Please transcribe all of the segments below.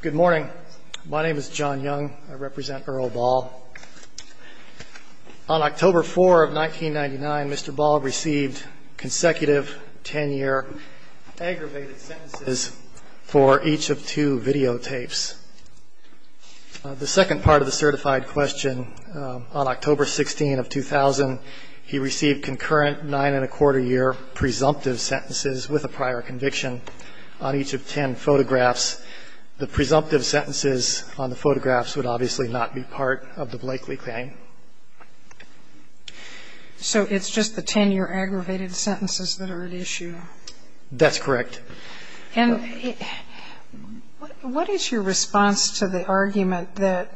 Good morning. My name is John Young. I represent Earl Ball. On October 4 of 1999, Mr. Ball received consecutive 10-year aggravated sentences for each of two videotapes. The second part of the certified question, on October 16 of 2000, he received concurrent nine-and-a-quarter year presumptive sentences with a prior conviction on each of 10 photographs. The presumptive sentences on the photographs would obviously not be part of the Blakely claim. So it's just the 10-year aggravated sentences that are at issue? That's correct. And what is your response to the argument that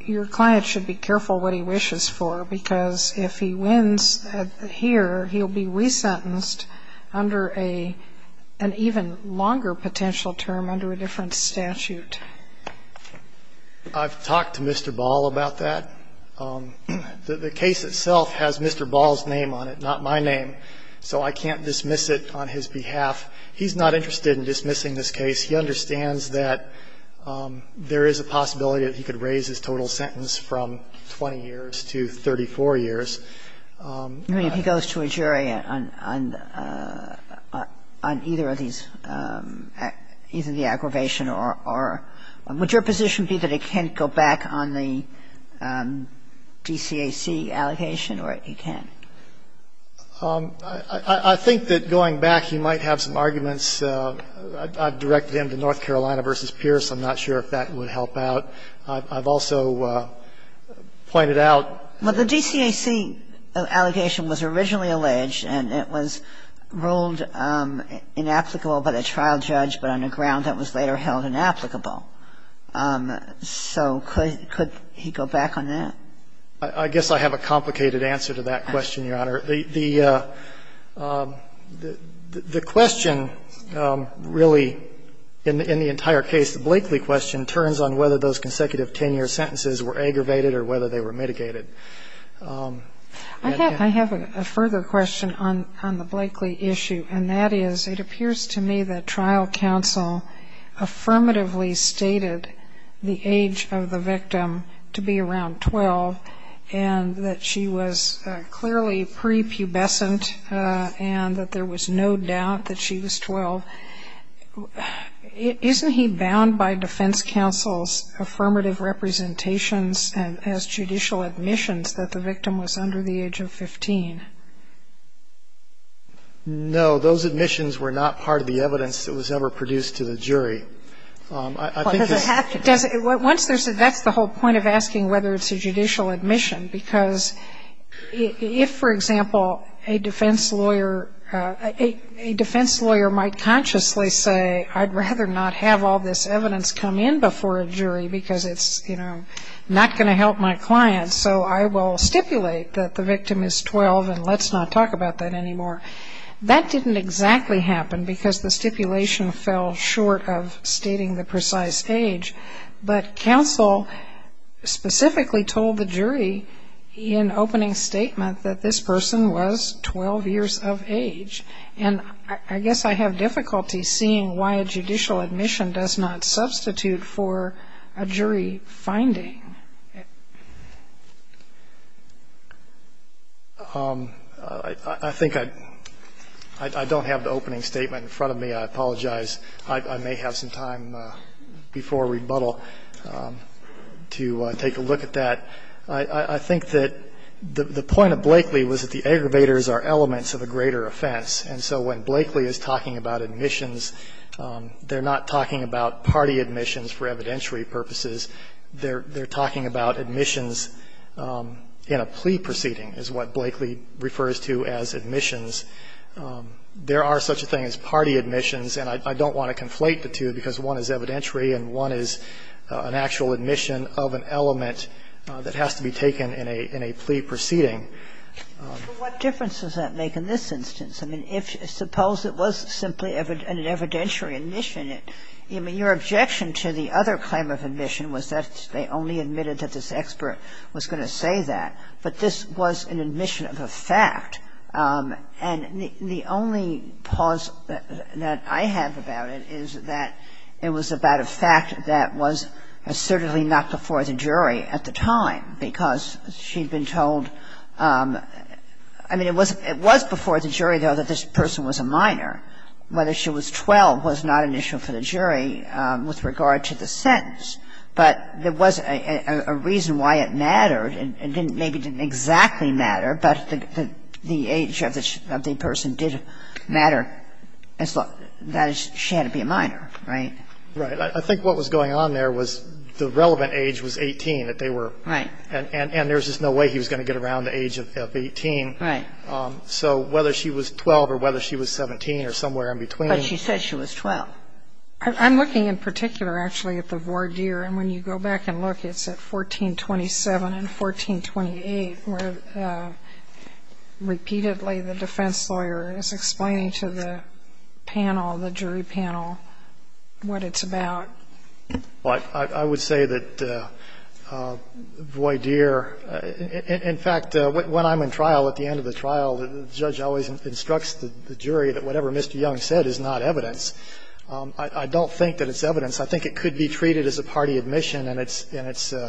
your client should be careful what he wishes for, because if he wins here, he'll be resentenced under an even longer potential term under a different statute? I've talked to Mr. Ball about that. The case itself has Mr. Ball's name on it, not my name, so I can't dismiss it on his behalf. He's not interested in dismissing this case. He understands that there is a possibility that he could raise his total sentence from 20 years to 34 years. If he goes to a jury on either of these, either the aggravation or – would your position be that he can't go back on the DCAC allegation or he can? I think that going back, he might have some arguments. I've directed him to North Carolina v. Pierce. I'm not sure if that would help out. I've also pointed out – Well, the DCAC allegation was originally alleged, and it was ruled inapplicable by the trial judge, but on a ground that was later held inapplicable. So could he go back on that? I guess I have a complicated answer to that question, Your Honor. The question really in the entire case, the Blakely question, turns on whether those consecutive 10-year sentences were aggravated or whether they were mitigated. I have a further question on the Blakely issue, and that is it appears to me that trial counsel affirmatively stated the age of the victim to be around 12 and that she was clearly prepubescent and that there was no doubt that she was 12. Isn't he bound by defense counsel's affirmative representations as judicial admissions that the victim was under the age of 15? No. Those admissions were not part of the evidence that was ever produced to the jury. I think it's – That's the whole point of asking whether it's a judicial admission, because if, for example, a defense lawyer might consciously say, I'd rather not have all this evidence come in before a jury because it's, you know, not going to help my client, so I will stipulate that the victim is 12 and let's not talk about that anymore, that didn't exactly happen because the stipulation fell short of stating the precise age. But counsel specifically told the jury in opening statement that this person was 12 years of age. And I guess I have difficulty seeing why a judicial admission does not substitute for a jury finding. I think I don't have the opening statement in front of me. I apologize. I may have some time before rebuttal to take a look at that. I think that the point of Blakeley was that the aggravators are elements of a greater offense. And so when Blakeley is talking about admissions, they're not talking about party admissions for evidentiary purposes. They're talking about admissions in a plea proceeding is what Blakeley refers to as admissions. There are such a thing as party admissions. And I don't want to conflate the two because one is evidentiary and one is an actual admission of an element that has to be taken in a plea proceeding. But what difference does that make in this instance? I mean, if you suppose it was simply an evidentiary admission, I mean, your objection to the other claim of admission was that they only admitted that this expert was going to say that, but this was an admission of a fact. And the only pause that I have about it is that it was about a fact that was assertedly not before the jury at the time because she'd been told – I mean, it was before the jury, though, that this person was a minor. Whether she was 12 was not an issue for the jury with regard to the sentence. But there was a reason why it mattered. It didn't exactly matter, but the age of the person did matter. She had to be a minor, right? Right. I think what was going on there was the relevant age was 18. Right. And there was just no way he was going to get around the age of 18. Right. So whether she was 12 or whether she was 17 or somewhere in between. But she said she was 12. I'm looking in particular, actually, at the voir dire. And when you go back and look, it's at 1427 and 1428, where repeatedly the defense lawyer is explaining to the panel, the jury panel, what it's about. I would say that voir dire – in fact, when I'm in trial, at the end of the trial, the judge always instructs the jury that whatever Mr. Young said is not evidence. I don't think that it's evidence. I think it could be treated as a party admission, and it's –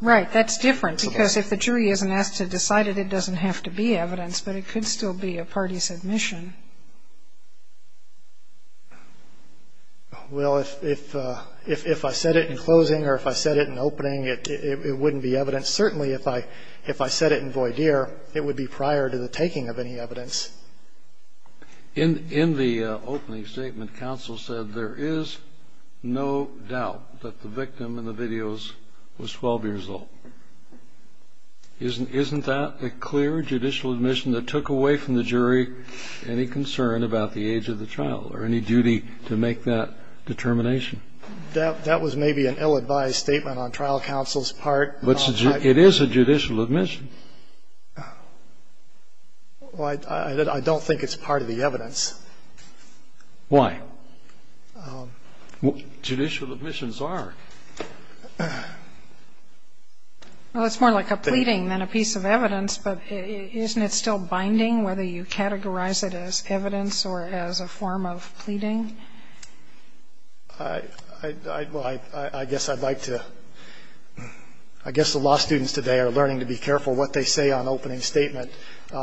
Right. That's different, because if the jury isn't asked to decide it, it doesn't have to be evidence, but it could still be a party's admission. Well, if I said it in closing or if I said it in opening, it wouldn't be evidence. Certainly, if I said it in voir dire, it would be prior to the taking of any evidence. In the opening statement, counsel said there is no doubt that the victim in the videos was 12 years old. Isn't that a clear judicial admission that took away from the jury any concern about the age of the trial or any duty to make that determination? That was maybe an ill-advised statement on trial counsel's part. But it is a judicial admission. Well, I don't think it's part of the evidence. Why? Judicial admissions are. Well, it's more like a pleading than a piece of evidence, but isn't it still binding whether you categorize it as evidence or as a form of pleading? I guess I'd like to – I guess the law students today are learning to be careful what they say on opening statement.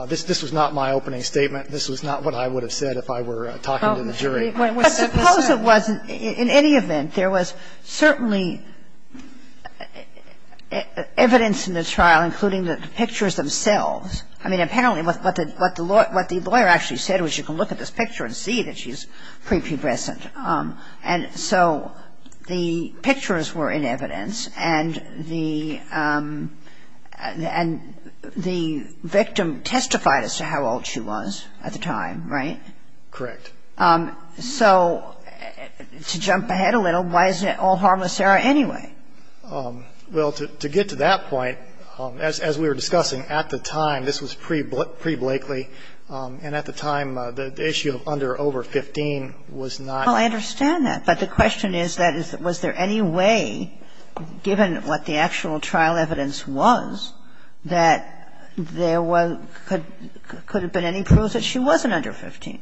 This was not my opening statement. This was not what I would have said if I were talking to the jury. But suppose it wasn't. In any event, there was certainly evidence in the trial, including the pictures themselves. I mean, apparently what the lawyer actually said was you can look at this picture and see that she's prepubescent. Correct. And so the pictures were in evidence, and the victim testified as to how old she was at the time, right? Correct. So to jump ahead a little, why is it all harmless there anyway? Well, to get to that point, as we were discussing at the time, this was pre-Blakely, and at the time, the issue of under or over 15 was not. Well, I understand that. But the question is, was there any way, given what the actual trial evidence was, that there could have been any proof that she wasn't under 15?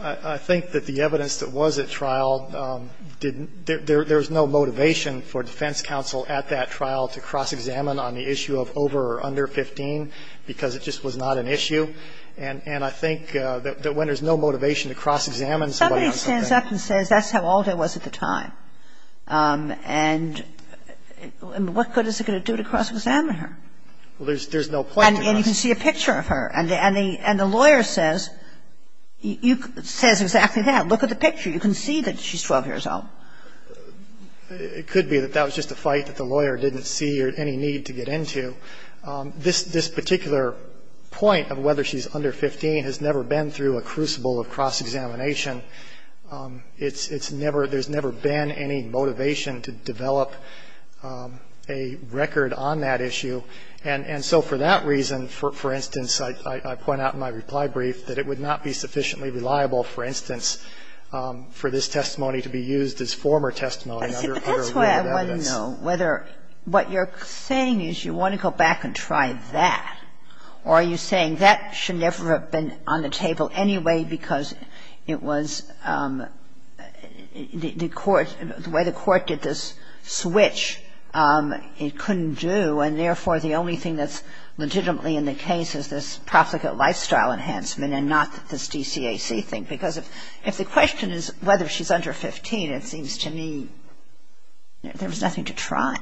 I think that the evidence that was at trial didn't – there was no motivation for defense counsel at that trial to cross-examine on the issue of over or under 15 because it just was not an issue. And I think that when there's no motivation to cross-examine somebody on something Somebody stands up and says that's how old I was at the time. And what good is it going to do to cross-examine her? Well, there's no point to that. And you can see a picture of her. And the lawyer says, you – says exactly that. Look at the picture. You can see that she's 12 years old. It could be that that was just a fight that the lawyer didn't see or any need to get into. This – this particular point of whether she's under 15 has never been through a crucible of cross-examination. It's – it's never – there's never been any motivation to develop a record on that issue. And so for that reason, for instance, I point out in my reply brief that it would not be sufficiently reliable, for instance, for this testimony to be used as former testimony under a rule of evidence. I don't know whether – what you're saying is you want to go back and try that. Or are you saying that should never have been on the table anyway because it was the court – the way the court did this switch, it couldn't do. And therefore, the only thing that's legitimately in the case is this profligate lifestyle enhancement and not this DCAC thing. Because if – if the question is whether she's under 15, it seems to me there was nothing to try.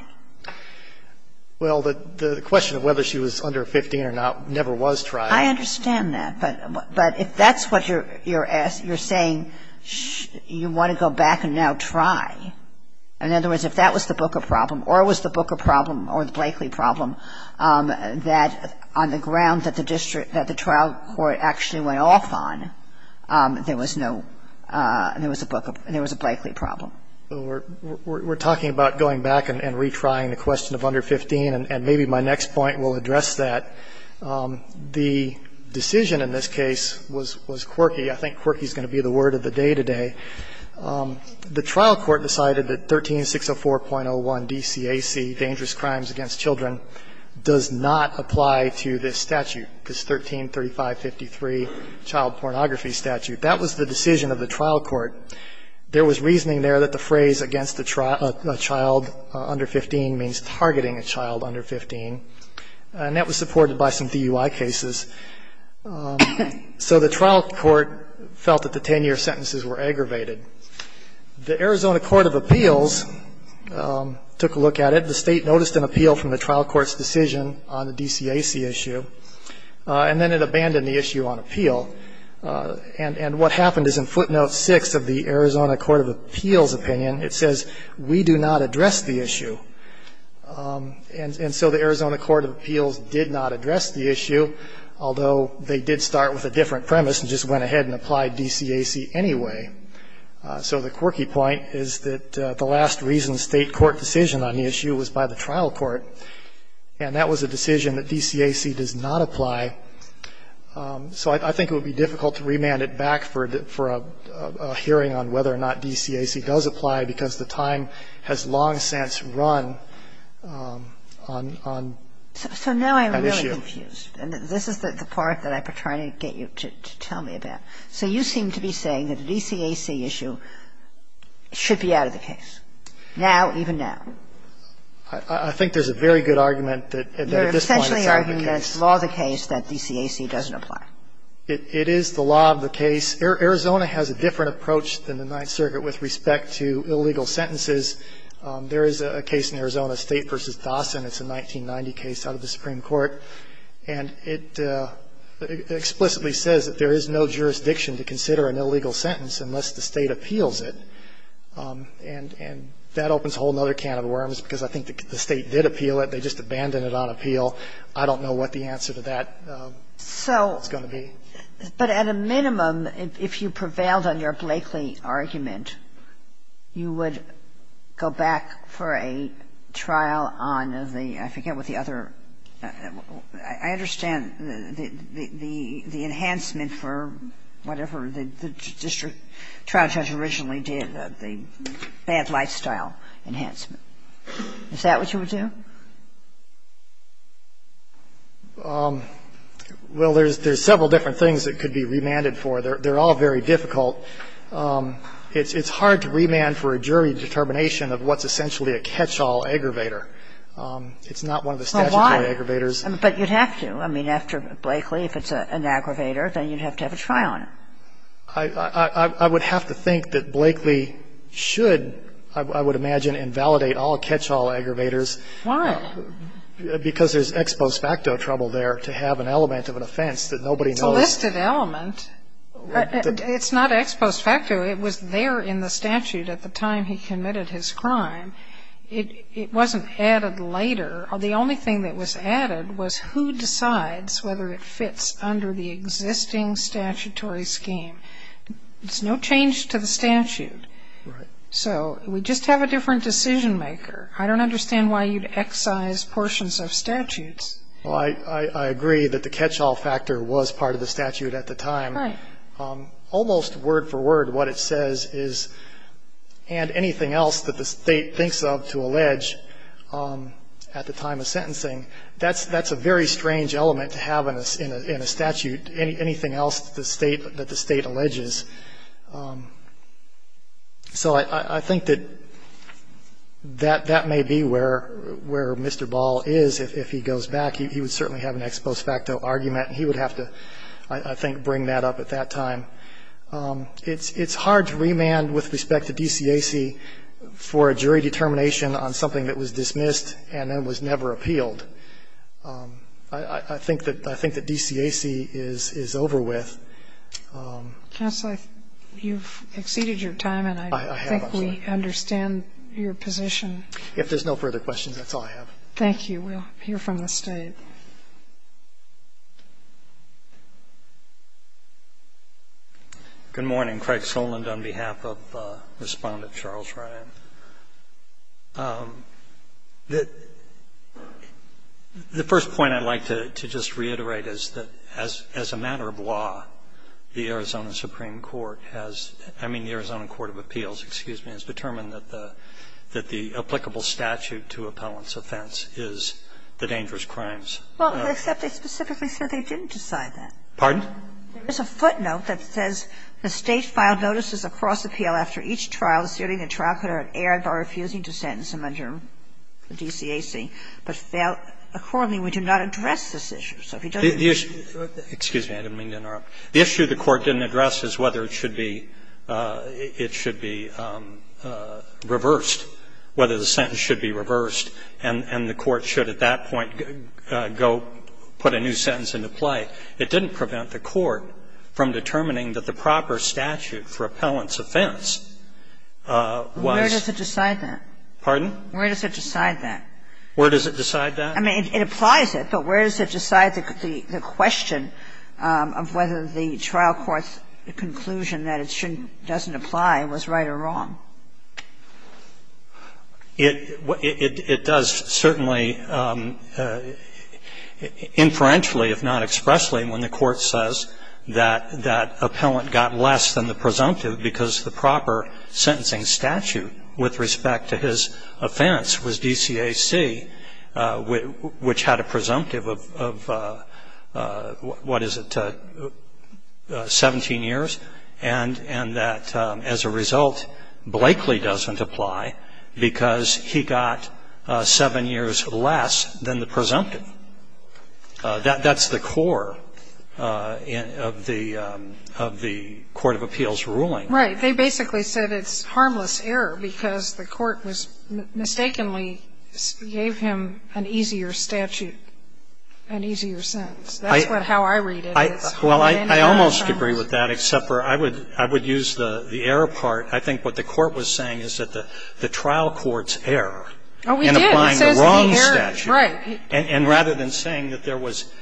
Well, the – the question of whether she was under 15 or not never was tried. I understand that. But – but if that's what you're – you're asking – you're saying you want to go back and now try. In other words, if that was the Booker problem or it was the Booker problem or the Blakely problem, that on the ground that the district – that the trial court actually went off on, there was no – there was a Booker – there was a Blakely We're talking about going back and retrying the question of under 15, and maybe my next point will address that. The decision in this case was – was quirky. I think quirky is going to be the word of the day today. The trial court decided that 13604.01 DCAC, dangerous crimes against children, does not apply to this statute, this 133553 child pornography statute. That was the decision of the trial court. There was reasoning there that the phrase against a child under 15 means targeting a child under 15, and that was supported by some DUI cases. So the trial court felt that the 10-year sentences were aggravated. The Arizona Court of Appeals took a look at it. The State noticed an appeal from the trial court's decision on the DCAC issue, and then it abandoned the issue on appeal. And what happened is in footnote 6 of the Arizona Court of Appeals opinion, it says, we do not address the issue. And so the Arizona Court of Appeals did not address the issue, although they did start with a different premise and just went ahead and applied DCAC anyway. So the quirky point is that the last reason State court decision on the issue was by the trial court, and that was a decision that DCAC does not apply. So I think it would be difficult to remand it back for a hearing on whether or not DCAC does apply, because the time has long since run on an issue. So now I'm really confused. And this is the part that I've been trying to get you to tell me about. So you seem to be saying that the DCAC issue should be out of the case, now, even now. I think there's a very good argument that at this point it's out of the case. Sotomayor, I'm simply arguing that it's law of the case that DCAC doesn't apply. It is the law of the case. Arizona has a different approach than the Ninth Circuit with respect to illegal sentences. There is a case in Arizona, State v. Dawson. It's a 1990 case out of the Supreme Court. And it explicitly says that there is no jurisdiction to consider an illegal sentence unless the State appeals it. And that opens a whole other can of worms, because I think the State did appeal it. They just abandoned it on appeal. I don't know what the answer to that is going to be. So at a minimum, if you prevailed on your Blakely argument, you would go back for a trial on the – I forget what the other – I understand the enhancement for whatever the district trial judge originally did, the bad lifestyle enhancement. Is that what you would do? Well, there's several different things that could be remanded for. They're all very difficult. It's hard to remand for a jury determination of what's essentially a catch-all aggravator. It's not one of the statutory aggravators. But you'd have to. I mean, after Blakely, if it's an aggravator, then you'd have to have a trial on it. I would have to think that Blakely should, I would imagine, invalidate all catch-all aggravators. Why? Because there's ex post facto trouble there to have an element of an offense that nobody knows. It's a listed element. It's not ex post facto. It was there in the statute at the time he committed his crime. It wasn't added later. The only thing that was added was who decides whether it fits under the existing statutory scheme. There's no change to the statute. Right. So we just have a different decision maker. I don't understand why you'd excise portions of statutes. Well, I agree that the catch-all factor was part of the statute at the time. Right. Almost word for word what it says is, and anything else that the State thinks of to allege at the time of sentencing, that's a very strange element to have in a statute, anything else that the State alleges. So I think that that may be where Mr. Ball is if he goes back. He would certainly have an ex post facto argument, and he would have to, I think, bring that up at that time. It's hard to remand with respect to DCAC for a jury determination on something that was dismissed and then was never appealed. I think that DCAC is over with. Counsel, you've exceeded your time, and I think we understand your position. If there's no further questions, that's all I have. Thank you. We'll hear from the State. Good morning. Craig Soland on behalf of Respondent Charles Ryan. The first point I'd like to just reiterate is that as a matter of law, the Arizona Supreme Court has, I mean, the Arizona Court of Appeals, excuse me, has determined that the applicable statute to appellant's offense is the dangerous crimes. Well, except they specifically said they didn't decide that. Pardon? There's a footnote that says, The State filed notices across appeal after each trial, asserting the trial could have erred by refusing to sentence him under DCAC, but failed. Accordingly, we do not address this issue. So if you don't agree. Excuse me. I didn't mean to interrupt. The issue the Court didn't address is whether it should be reversed, whether the sentence should be reversed, and the Court should at that point go put a new sentence into play. It doesn't prevent the Court from determining that the proper statute for appellant's offense was. Where does it decide that? Pardon? Where does it decide that? Where does it decide that? I mean, it applies it, but where does it decide the question of whether the trial court's conclusion that it shouldn't, doesn't apply was right or wrong? It does, certainly, inferentially, if not expressly, when the Court says that appellant got less than the presumptive because the proper sentencing statute with respect to his offense was DCAC, which had a presumptive of, what is it, 17 years, and that as a result, both the defendant and the plaintiff were sentenced to seven years less than the presumptive. That's the core of the Court of Appeals' ruling. Right. They basically said it's harmless error because the Court mistakenly gave him an easier statute, an easier sentence. That's how I read it. Well, I almost agree with that, except for I would use the error part. I think what the Court was saying is that the trial court's error in applying the wrong statute. Oh, we did. It says the error, right. And rather than saying that there was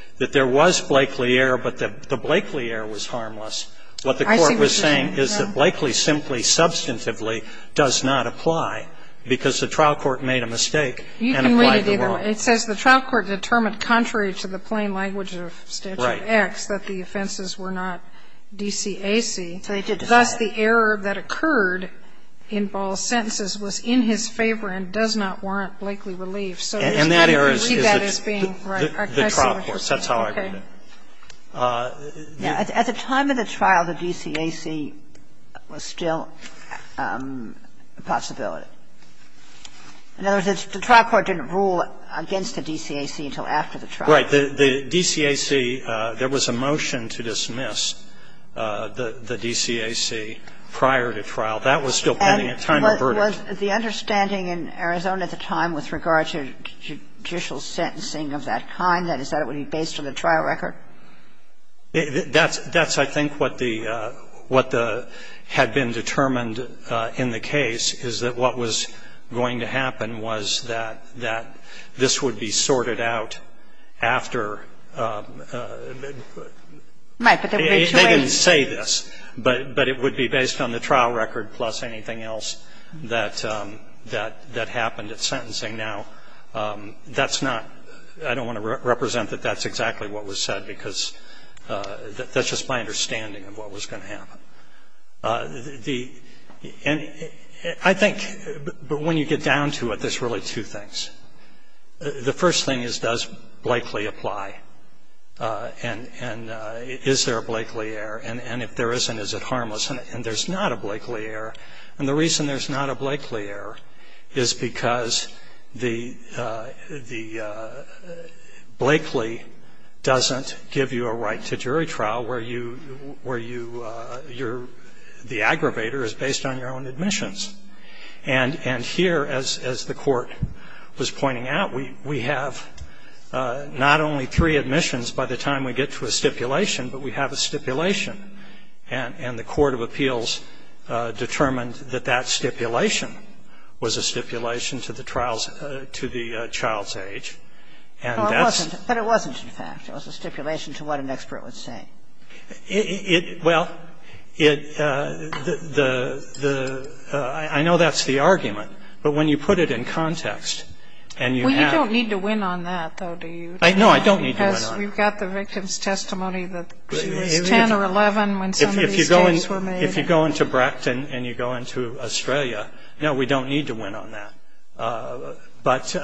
Blakeley error but the Blakeley error was harmless, what the Court was saying is that Blakeley simply substantively does not apply because the trial court made a mistake and applied the wrong. You can read it either way. It says the trial court determined contrary to the plain language of Statute 1-X that the offenses were not DCAC. Thus, the error that occurred in Ball's sentences was in his favor and does not warrant Blakeley relief. And that error is the trial court. That's how I read it. At the time of the trial, the DCAC was still a possibility. In other words, the trial court didn't rule against the DCAC until after the trial. Right. The DCAC, there was a motion to dismiss the DCAC prior to trial. That was still pending at the time of the verdict. And was the understanding in Arizona at the time with regard to judicial sentencing of that kind, that is, that it would be based on the trial record? That's, I think, what the had been determined in the case, is that what was going to happen was that this would be sorted out after. They didn't say this, but it would be based on the trial record plus anything else that happened at sentencing. Now, that's not, I don't want to represent that that's exactly what was said, because that's just my understanding of what was going to happen. The, and I think, but when you get down to it, there's really two things. The first thing is, does Blakely apply? And is there a Blakely error? And if there isn't, is it harmless? And there's not a Blakely error. And the reason there's not a Blakely error is because the, the, Blakely doesn't give you a right to jury trial where you, where you, you're, the aggravator is based on your own admissions. And, and here, as, as the court was pointing out, we, we have not only three admissions by the time we get to a stipulation, but we have a stipulation. And, and the court of appeals determined that that stipulation was a stipulation to the trial's, to the child's age. And that's. But it wasn't, in fact. It was a stipulation to what an expert would say. It, it, well, it, the, the, the, I know that's the argument. But when you put it in context, and you have. Well, you don't need to win on that, though, do you? I, no, I don't need to win on that. Because we've got the victim's testimony that she was 10 or 11 when some of these cases were made. If you go into, if you go into Bracton and you go into Australia, no, we don't need to win on that. But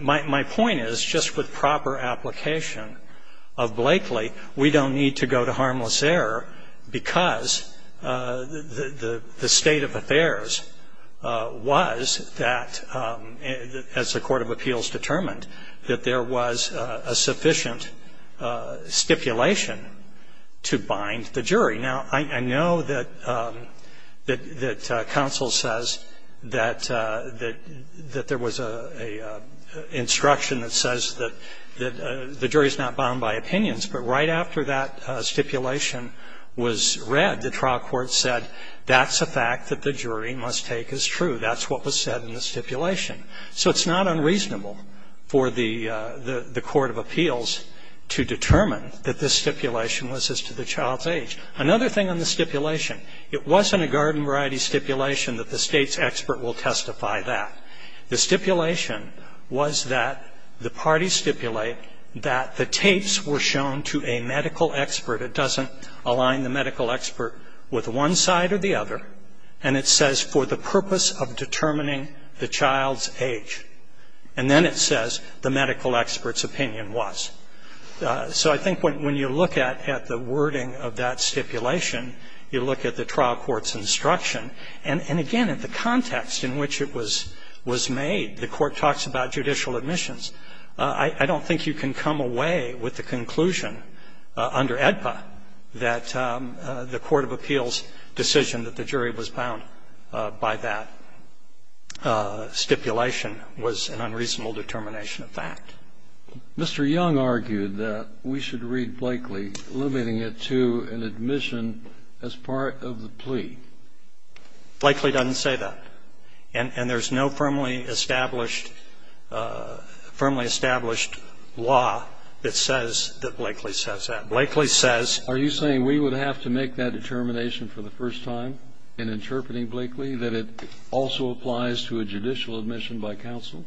my, my point is, just with proper application of Blakely, we don't need to go to harmless error because the, the, the state of affairs was that, as the court of appeals determined, that there was a sufficient stipulation to bind the jury. Now, I, I know that, that, that counsel says that, that, that there was a, a instruction that says that, that the jury's not bound by opinions. But right after that stipulation was read, the trial court said, that's a fact that the jury must take as true. That's what was said in the stipulation. So it's not unreasonable for the, the, the court of appeals to determine that this stipulation was as to the child's age. Another thing on the stipulation, it wasn't a garden variety stipulation that the state's expert will testify that. The stipulation was that the parties stipulate that the tapes were shown to a medical expert. It doesn't align the medical expert with one side or the other. And it says, for the purpose of determining the child's age. And then it says, the medical expert's opinion was. So I think when, when you look at, at the wording of that stipulation, you look at the trial court's instruction, and, and again, at the context in which it was, was made. The court talks about judicial admissions. I, I don't think you can come away with the conclusion under AEDPA that the court of appeals' decision that the jury was bound by that stipulation was an unreasonable determination of fact. Mr. Young argued that we should read Blakeley limiting it to an admission as part of the plea. Blakeley doesn't say that. And, and there's no firmly established, firmly established law that says that Blakeley says that. Blakeley says. Are you saying we would have to make that determination for the first time in interpreting Blakeley, that it also applies to a judicial admission by counsel?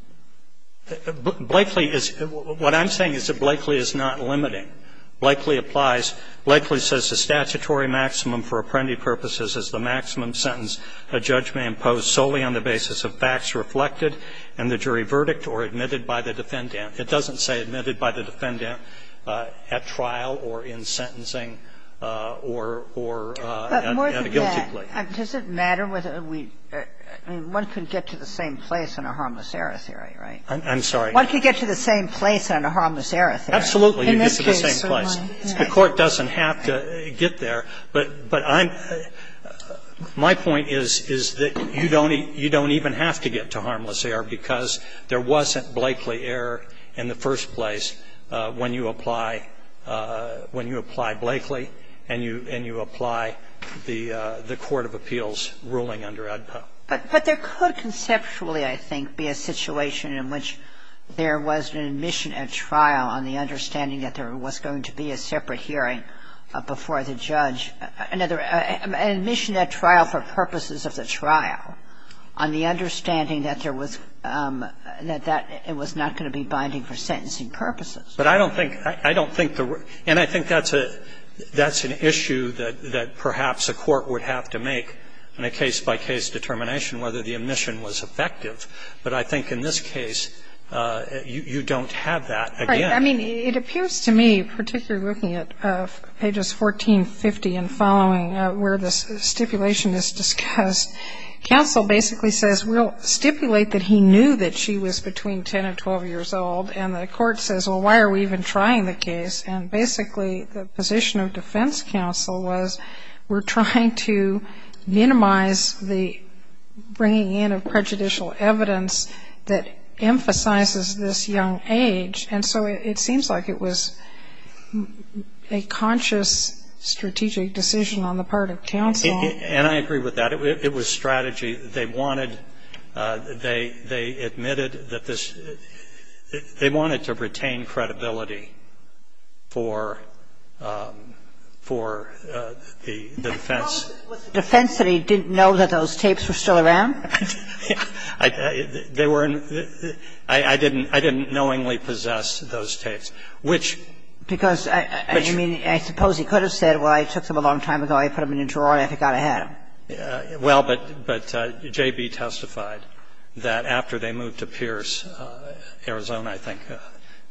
Blakeley is, what I'm saying is that Blakeley is not limiting. Blakeley applies. Blakeley says the statutory maximum for apprendee purposes is the maximum sentence a judge may impose solely on the basis of facts reflected in the jury verdict or admitted by the defendant. It doesn't say admitted by the defendant at trial or in sentencing or, or at a guilty plea. Sotomayor, does it matter whether we, I mean, one can get to the same place in a harmless error theory, right? I'm sorry. One can get to the same place in a harmless error theory. Absolutely, you get to the same place. In this case. The Court doesn't have to get there. But, but I'm, my point is, is that you don't even have to get to harmless error because there wasn't Blakeley error in the first place when you apply, when you apply Blakeley and you, and you apply the, the court of appeals ruling under AEDPA. But, but there could conceptually, I think, be a situation in which there was an admission at trial on the understanding that there was going to be a separate hearing before the judge, another, an admission at trial for purposes of the trial on the understanding that there was, that that was not going to be binding for sentencing purposes. But I don't think, I don't think the, and I think that's a, that's an issue that, that perhaps a court would have to make in a case-by-case determination whether the admission was effective. But I think in this case, you, you don't have that again. Right. I mean, it appears to me, particularly looking at pages 1450 and following where this stipulation is discussed, counsel basically says we'll stipulate that he knew that she was between 10 and 12 years old. And the court says, well, why are we even trying the case? And basically the position of defense counsel was we're trying to minimize the bringing in of prejudicial evidence that emphasizes this young age. And so it seems like it was a conscious strategic decision on the part of counsel. And I agree with that. It was strategy. They wanted, they admitted that this, they wanted to retain credibility for, for the defense. Was it defense that he didn't know that those tapes were still around? They were in, I didn't, I didn't knowingly possess those tapes, which. Because, I mean, I suppose he could have said, well, I took them a long time ago, I put them in a drawer and I forgot I had them. Well, but, but J.B. testified that after they moved to Pierce, Arizona I think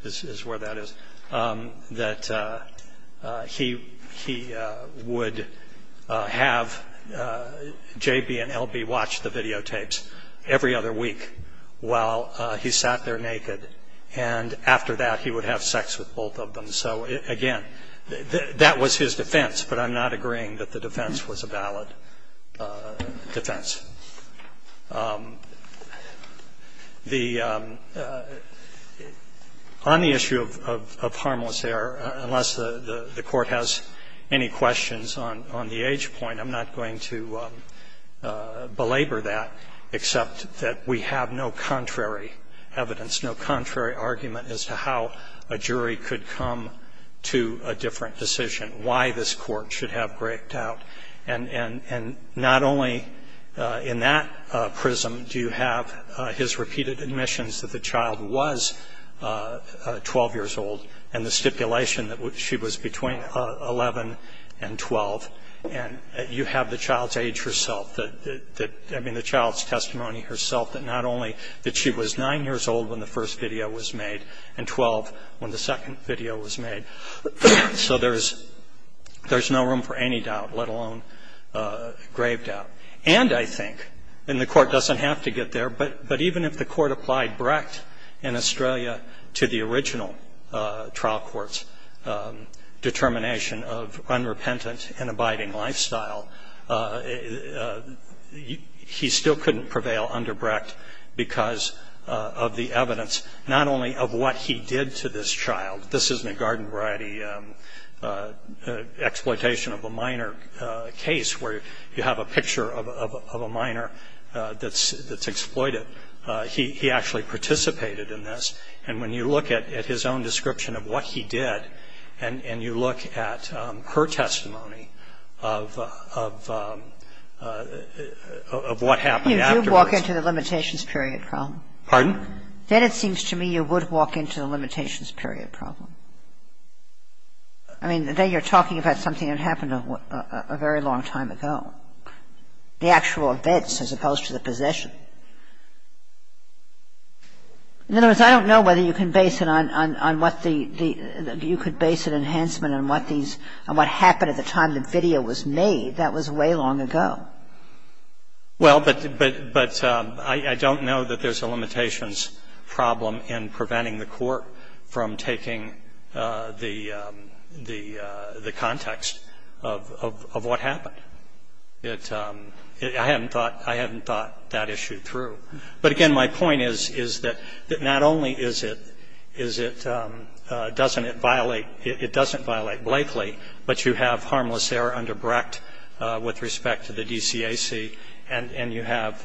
is where that is, that he, he would have J.B. and L.B. watch the videotapes every other week while he sat there naked. And after that he would have sex with both of them. So, again, that was his defense. But I'm not agreeing that the defense was a valid defense. The, on the issue of harmless error, unless the Court has any questions on, on the age point, I'm not going to belabor that, except that we have no contrary evidence, no contrary argument as to how a jury could come to a different decision, why this Court should have grayed out. And, and, and not only in that prism do you have his repeated admissions that the child was 12 years old, and the stipulation that she was between 11 and 12. And you have the child's age herself, that, that, that, I mean, the child's testimony herself, that not only that she was 9 years old when the first video was made, and 12 when the second video was made. So there's, there's no room for any doubt, let alone grave doubt. And I think, and the Court doesn't have to get there, but, but even if the Court applied Brecht in Australia to the original trial court's determination of unrepentant and abiding lifestyle, he still couldn't prevail under Brecht because of the evidence not only of what he did to this child. This isn't a garden variety exploitation of a minor case where you have a picture of, of a minor that's, that's exploited. He, he actually participated in this, and when you look at, at his own description of what he did, and, and you look at her testimony of, of, of what happened afterwards. You do walk into the limitations period problem. Pardon? Then it seems to me you would walk into the limitations period problem. I mean, then you're talking about something that happened a very long time ago. The actual events as opposed to the possession. In other words, I don't know whether you can base it on, on, on what the, the, you could base an enhancement on what these, on what happened at the time the video was made. That was way long ago. Well, but, but, but I, I don't know that there's a limitations problem in preventing the court from taking the, the, the context of, of, of what happened. It, I hadn't thought, I hadn't thought that issue through. But again, my point is, is that, that not only is it, is it, doesn't it violate, it doesn't violate Blakely, but you have harmless error under Brecht with respect to the DCAC, and, and you have,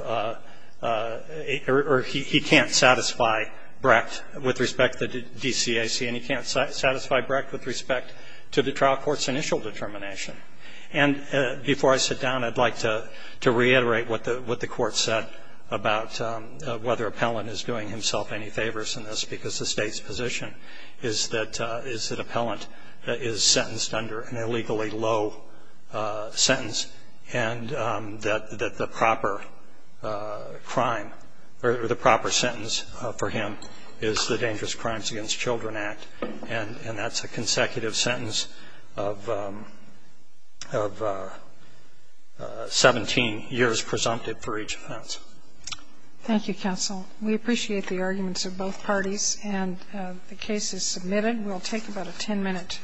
or he, he can't satisfy Brecht with respect to the DCAC, and he can't satisfy Brecht with respect to the trial court's initial determination. And before I sit down, I'd like to, to reiterate what the, what the court said about whether Appellant is doing himself any favors in this, because the State's position is that, is that Appellant is sentenced under an illegally low sentence and that, that the proper crime, or the proper sentence for him is the Dangerous Crimes Against Children Act, and, and that's a consecutive sentence of, of 17 years presumptive for each offense. Thank you, counsel. We appreciate the arguments of both parties, and the case is submitted. We'll take about a 10-minute break.